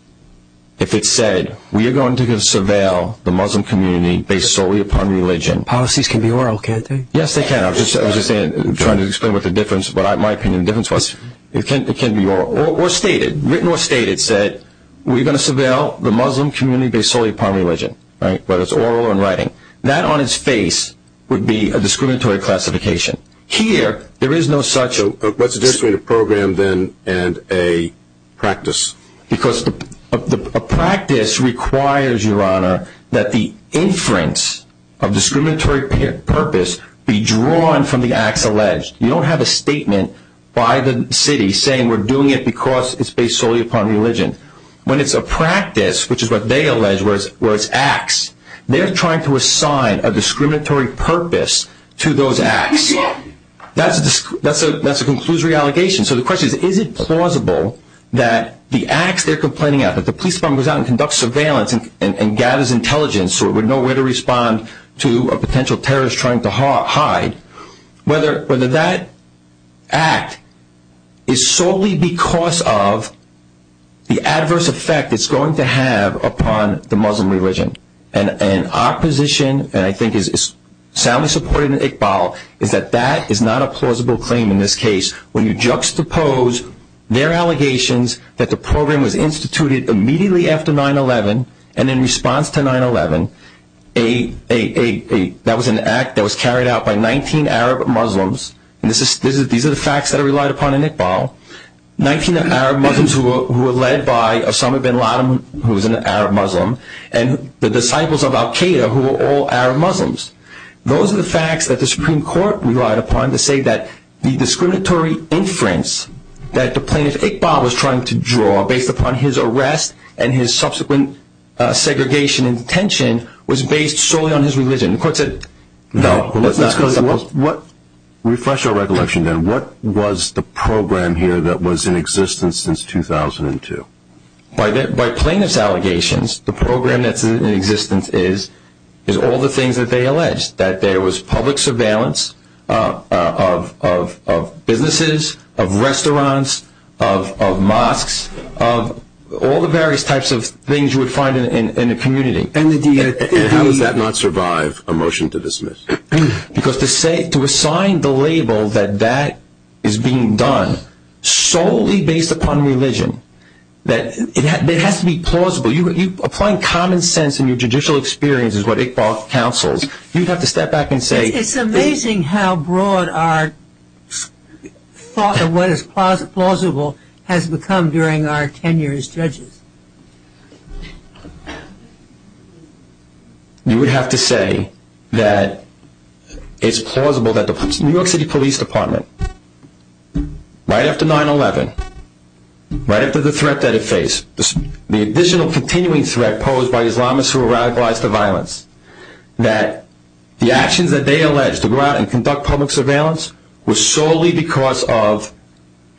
if it said, we are going to surveil the Muslim community based solely upon religion. Policies can be oral, can't they? Yes, they can. I was just trying to explain what the difference was. In my opinion, the difference was it can be oral or stated. If it was written or stated, it said, we are going to surveil the Muslim community based solely upon religion, whether it is oral or in writing. That on its face would be a discriminatory classification. Here, there is no such. What is the difference between a program and a practice? Because a practice requires, Your Honor, that the inference of discriminatory purpose be drawn from the acts alleged. You don't have a statement by the city saying we are doing it because it is based solely upon religion. When it is a practice, which is what they allege where it is acts, they are trying to assign a discriminatory purpose to those acts. That is a conclusory allegation. So the question is, is it plausible that the acts they are complaining about, that the police department goes out and conducts surveillance and gathers intelligence so it would know where to respond to a potential terrorist trying to hide, whether that act is solely because of the adverse effect it is going to have upon the Muslim religion. And our position, and I think it is soundly supported in Iqbal, is that that is not a plausible claim in this case. When you juxtapose their allegations that the program was instituted immediately after 9-11, and in response to 9-11, that was an act that was carried out by 19 Arab Muslims, and these are the facts that are relied upon in Iqbal, 19 Arab Muslims who were led by Osama bin Laden, who was an Arab Muslim, and the disciples of Al-Qaeda who were all Arab Muslims. Those are the facts that the Supreme Court relied upon to say that the discriminatory inference that the plaintiff, Iqbal, was trying to draw based upon his arrest and his subsequent segregation and detention was based solely on his religion. Refresh our recollection then. What was the program here that was in existence since 2002? By plaintiff's allegations, the program that is in existence is all the things that they alleged, that there was public surveillance of businesses, of restaurants, of mosques, of all the various types of things you would find in a community. And how does that not survive a motion to dismiss? Because to assign the label that that is being done solely based upon religion, it has to be plausible. Applying common sense in your judicial experience is what Iqbal counsels. You'd have to step back and say... It's amazing how broad our thought of what is plausible has become during our tenure as judges. You would have to say that it's plausible that the New York City Police Department, right after 9-11, right after the threat that it faced, the additional continuing threat posed by Islamists who were radicalized to violence, that the actions that they alleged to go out and conduct public surveillance was solely because of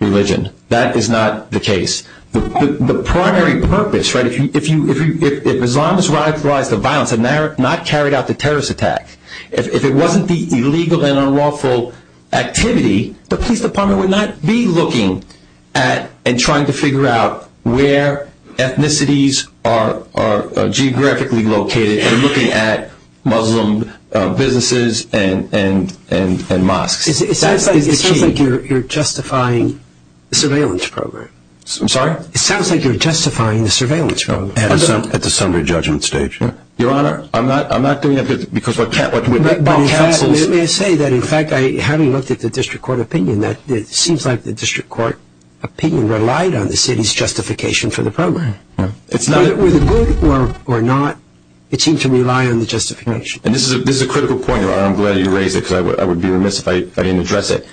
religion. That is not the case. The primary purpose, right, if Islamists were radicalized to violence and not carried out the terrorist attack, if it wasn't the illegal and unlawful activity, the police department would not be looking at and trying to figure out where ethnicities are geographically located and looking at Muslim businesses and mosques. It sounds like you're justifying the surveillance program. I'm sorry? It sounds like you're justifying the surveillance program. At the summary judgment stage, yeah. Your Honor, I'm not doing that because of what Iqbal counsels... Let me say that, in fact, having looked at the district court opinion, it seems like the district court opinion relied on the city's justification for the program. Whether it was good or not, it seemed to rely on the justification. And this is a critical point, Your Honor. I'm glad you raised it because I would be remiss if I didn't address it.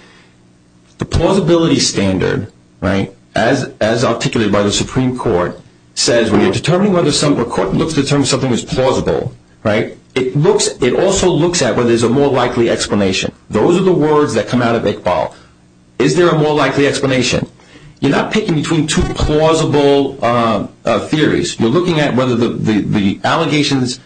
The plausibility standard, right, as articulated by the Supreme Court, says when you're determining whether something is plausible, right, it also looks at whether there's a more likely explanation. Those are the words that come out of Iqbal. Is there a more likely explanation? You're not picking between two plausible theories. You're looking at whether the allegations,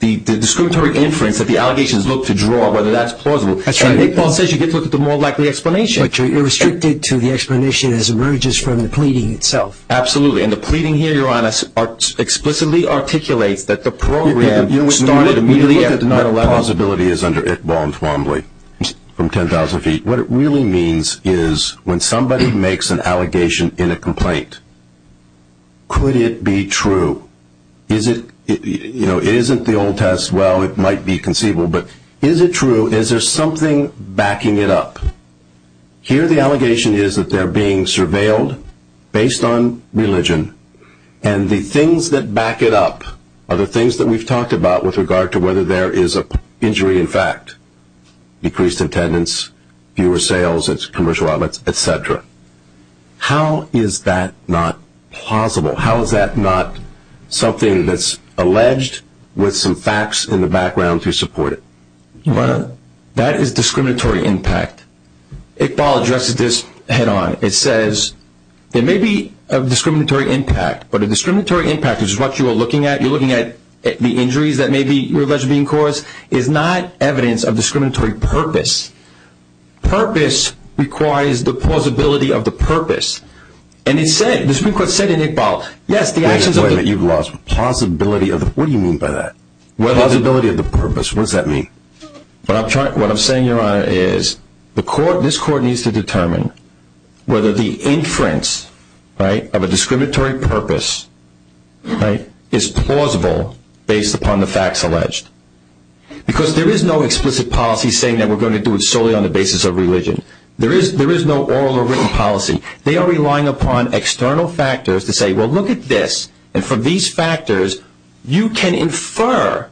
the discriminatory inference that the allegations look to draw, whether that's plausible. And Iqbal says you get to look at the more likely explanation. But you're restricted to the explanation as it emerges from the pleading itself. Absolutely, and the pleading here, Your Honor, explicitly articulates that the program started immediately at 11. You look at what the plausibility is under Iqbal and Twombly from 10,000 feet. What it really means is when somebody makes an allegation in a complaint, could it be true? It isn't the old test, well, it might be conceivable, but is it true? Is there something backing it up? Here the allegation is that they're being surveilled based on religion, and the things that back it up are the things that we've talked about with regard to whether there is an injury in fact, decreased attendance, fewer sales at commercial outlets, et cetera. How is that not plausible? How is that not something that's alleged with some facts in the background to support it? That is discriminatory impact. Iqbal addresses this head-on. It says there may be a discriminatory impact, but a discriminatory impact is what you are looking at. You're looking at the injuries that may be alleged to be in cause. It's not evidence of discriminatory purpose. Purpose requires the plausibility of the purpose. And the Supreme Court said in Iqbal, yes, the actions of the – Wait a minute, you've lost – plausibility of the – what do you mean by that? Plausibility of the purpose, what does that mean? What I'm saying, Your Honor, is this Court needs to determine whether the inference of a discriminatory purpose is plausible based upon the facts alleged. Because there is no explicit policy saying that we're going to do it solely on the basis of religion. There is no oral or written policy. They are relying upon external factors to say, well, look at this. And from these factors, you can infer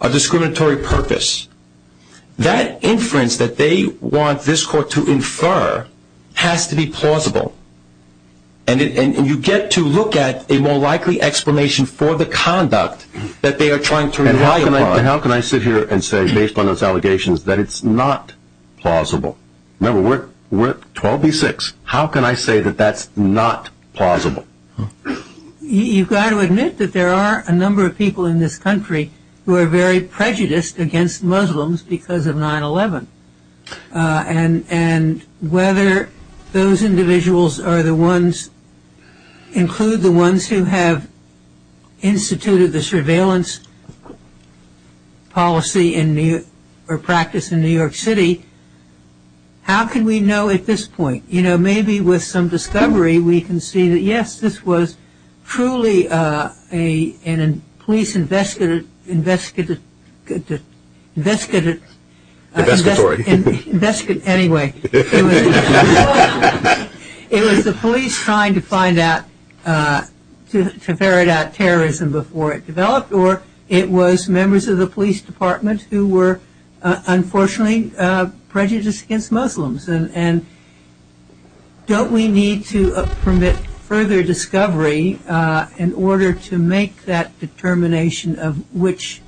a discriminatory purpose. That inference that they want this Court to infer has to be plausible. And you get to look at a more likely explanation for the conduct that they are trying to rely upon. And how can I sit here and say, based on those allegations, that it's not plausible? Remember, we're 12 v. 6. How can I say that that's not plausible? You've got to admit that there are a number of people in this country who are very prejudiced against Muslims because of 9-11. And whether those individuals include the ones who have instituted the surveillance policy or practice in New York City, how can we know at this point? You know, maybe with some discovery, we can see that, yes, this was truly a police investigatory. Anyway, it was the police trying to find out, to ferret out terrorism before it developed. Or it was members of the police department who were, unfortunately, prejudiced against Muslims. And don't we need to permit further discovery in order to make that determination of which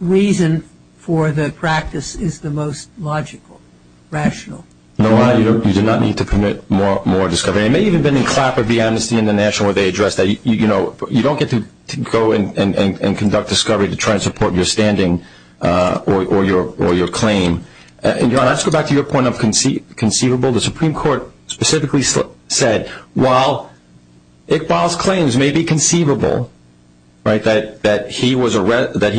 reason for the practice is the most logical, rational? No, you do not need to permit more discovery. It may even have been in Clapper v. Amnesty International where they addressed that. You know, you don't get to go and conduct discovery to try and support your standing or your claim. Let's go back to your point of conceivable. The Supreme Court specifically said, while Iqbal's claims may be conceivable, that he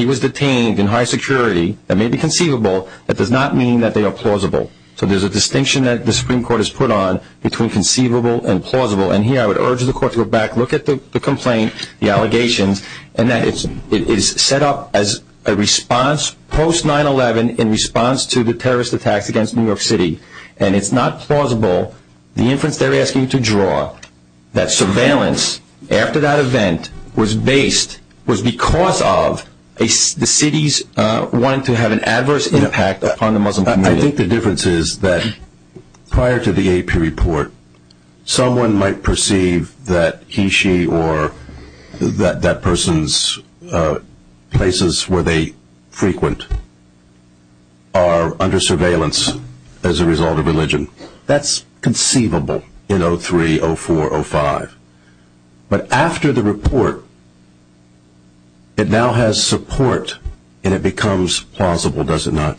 was detained in high security, that may be conceivable, that does not mean that they are plausible. So there's a distinction that the Supreme Court has put on between conceivable and plausible. And here I would urge the Court to go back, look at the complaint, the allegations, and that it is set up as a response post-9-11 in response to the terrorist attacks against New York City. And it's not plausible, the inference they're asking you to draw, that surveillance after that event was based, was because of the city's wanting to have an adverse impact upon the Muslim community. I think the difference is that prior to the AP report, someone might perceive that he, she, or that person's places where they frequent are under surveillance as a result of religion. That's conceivable in 03, 04, 05. But after the report, it now has support and it becomes plausible, does it not?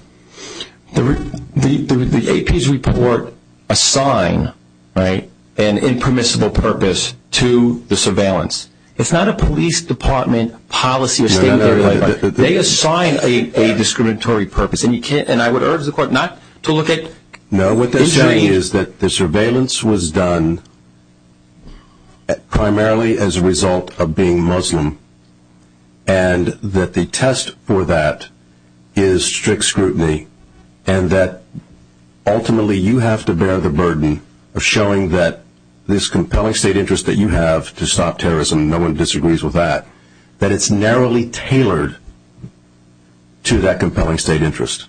The AP's report assign an impermissible purpose to the surveillance. It's not a police department policy statement. They assign a discriminatory purpose. And I would urge the Court not to look at... No, what they're saying is that the surveillance was done primarily as a result of being Muslim. And that the test for that is strict scrutiny. And that ultimately you have to bear the burden of showing that this compelling state interest that you have to stop terrorism, no one disagrees with that. That it's narrowly tailored to that compelling state interest.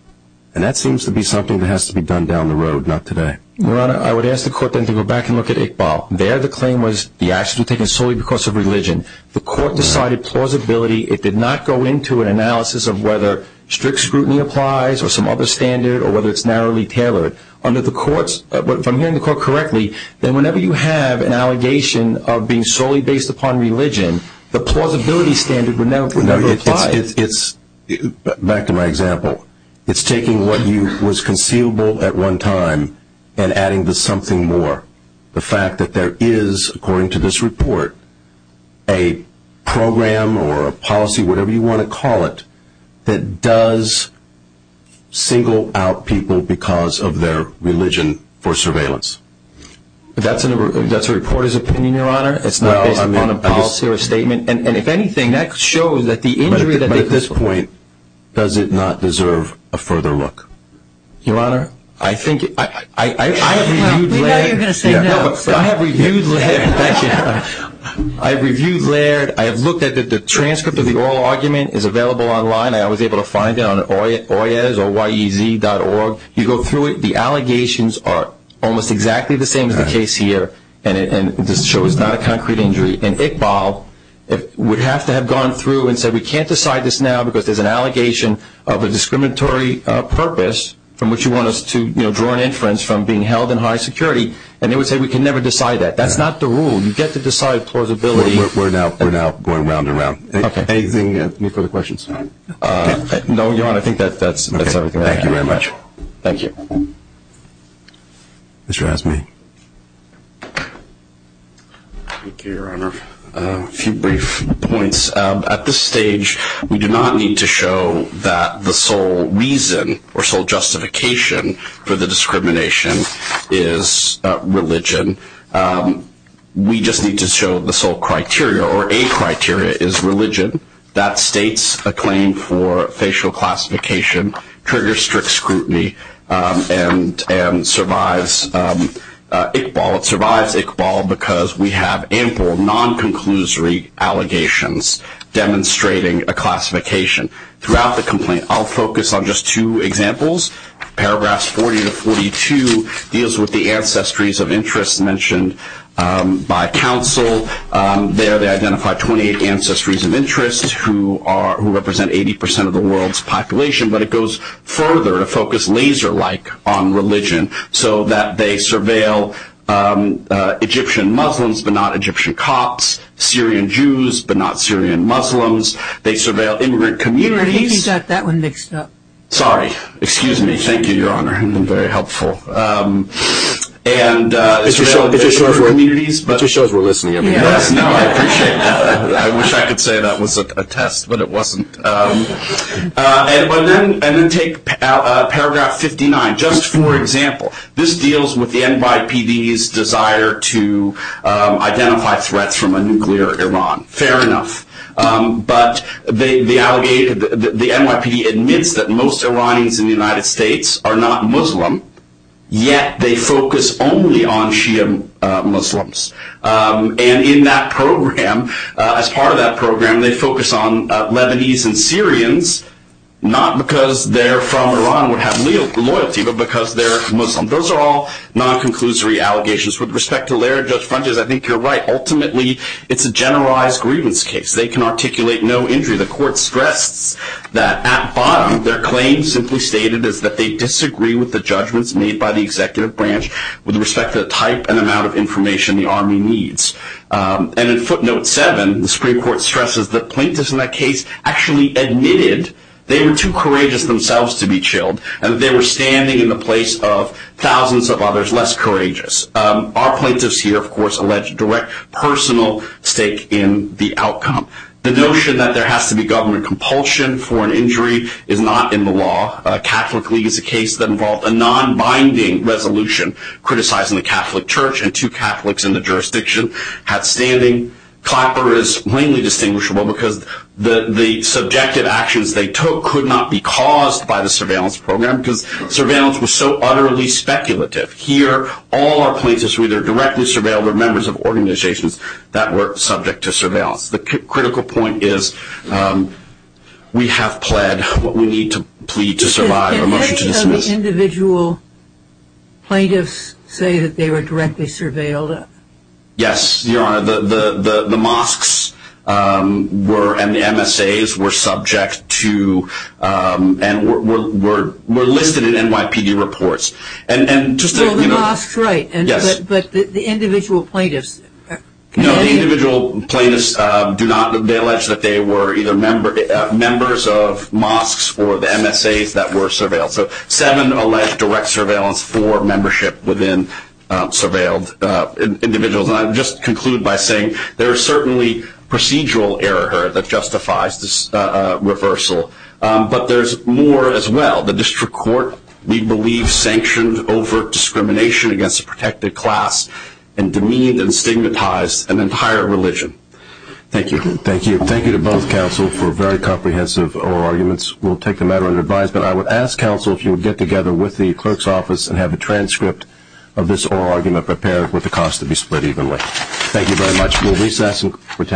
And that seems to be something that has to be done down the road, not today. Your Honor, I would ask the Court then to go back and look at Iqbal. There the claim was the actions were taken solely because of religion. The Court decided plausibility. It did not go into an analysis of whether strict scrutiny applies or some other standard or whether it's narrowly tailored. Under the Court's... If I'm hearing the Court correctly, then whenever you have an allegation of being solely based upon religion, the plausibility standard would never apply. Back to my example. It's taking what was conceivable at one time and adding to something more. The fact that there is, according to this report, a program or a policy, whatever you want to call it, that does single out people because of their religion for surveillance. That's a reporter's opinion, Your Honor. It's not based upon a policy or a statement. And if anything, that shows that the injury... But at this point, does it not deserve a further look? Your Honor, I think... We know you're going to say no. But I have reviewed Laird. I have reviewed Laird. I have looked at the transcript of the oral argument. It's available online. I was able to find it on Oyez.org. You go through it. The allegations are almost exactly the same as the case here. And this shows not a concrete injury. And Iqbal would have to have gone through and said, we can't decide this now because there's an allegation of a discriminatory purpose from which you want us to draw an inference from being held in high security. And they would say we can never decide that. That's not the rule. You get to decide plausibility. We're now going round and round. Anything new for the questions? No, Your Honor. I think that's everything I have. Thank you very much. Thank you. Mr. Rasmi. Thank you, Your Honor. A few brief points. At this stage we do not need to show that the sole reason or sole justification for the discrimination is religion. We just need to show the sole criteria or a criteria is religion. That states a claim for facial classification, triggers strict scrutiny, and survives Iqbal because we have ample non-conclusory allegations demonstrating a classification. Throughout the complaint I'll focus on just two examples. Paragraphs 40 to 42 deals with the ancestries of interest mentioned by counsel. There they identify 28 ancestries of interest who represent 80% of the world's population. But it goes further to focus laser-like on religion so that they surveil Egyptian Muslims, but not Egyptian Copts, Syrian Jews, but not Syrian Muslims. They surveil immigrant communities. You already got that one mixed up. Sorry. Excuse me. Thank you, Your Honor. I'm very helpful. And they surveil immigrant communities. Mr. Shores, we're listening. Yes. No, I appreciate that. I wish I could say that was a test, but it wasn't. And then take paragraph 59. Just for example, this deals with the NYPD's desire to identify threats from a nuclear Iran. Fair enough. But the NYPD admits that most Iranians in the United States are not Muslim, yet they focus only on Shia Muslims. And in that program, as part of that program, they focus on Lebanese and Syrians, not because they're from Iran and would have loyalty, but because they're Muslim. Those are all non-conclusory allegations. With respect to Laird, Judge Frantz, I think you're right. Ultimately, it's a generalized grievance case. They can articulate no injury. The court stressed that at bottom, their claim simply stated is that they disagree with the judgments made by the executive branch with respect to the type and amount of information the Army needs. And in footnote 7, the Supreme Court stresses that plaintiffs in that case actually admitted they were too courageous themselves to be chilled and that they were standing in the place of thousands of others less courageous. Our plaintiffs here, of course, allege direct personal stake in the outcome. The notion that there has to be government compulsion for an injury is not in the law. Catholic League is a case that involved a non-binding resolution criticizing the Catholic Church and two Catholics in the jurisdiction had standing. Clapper is plainly distinguishable because the subjective actions they took could not be caused by the surveillance program because surveillance was so utterly speculative. Here, all our plaintiffs were either directly surveilled or members of organizations that were subject to surveillance. The critical point is we have pled what we need to plead to survive. A motion to dismiss. Did any of the individual plaintiffs say that they were directly surveilled? Yes, Your Honor. The mosques and the MSAs were subject to and were listed in NYPD reports. Well, the mosques, right. Yes. But the individual plaintiffs. No, the individual plaintiffs do not. They allege that they were either members of mosques or the MSAs that were surveilled. So seven allege direct surveillance for membership within surveilled individuals. And I'll just conclude by saying there is certainly procedural error that justifies this reversal, but there's more as well. The district court, we believe, sanctioned overt discrimination against a protected class and demeaned and stigmatized an entire religion. Thank you. Thank you. Thank you to both counsel for very comprehensive oral arguments. We'll take the matter under advisement. I would ask counsel if you would get together with the clerk's office and have a transcript of this oral argument prepared with the cost to be split evenly. Thank you very much. We'll recess and continue.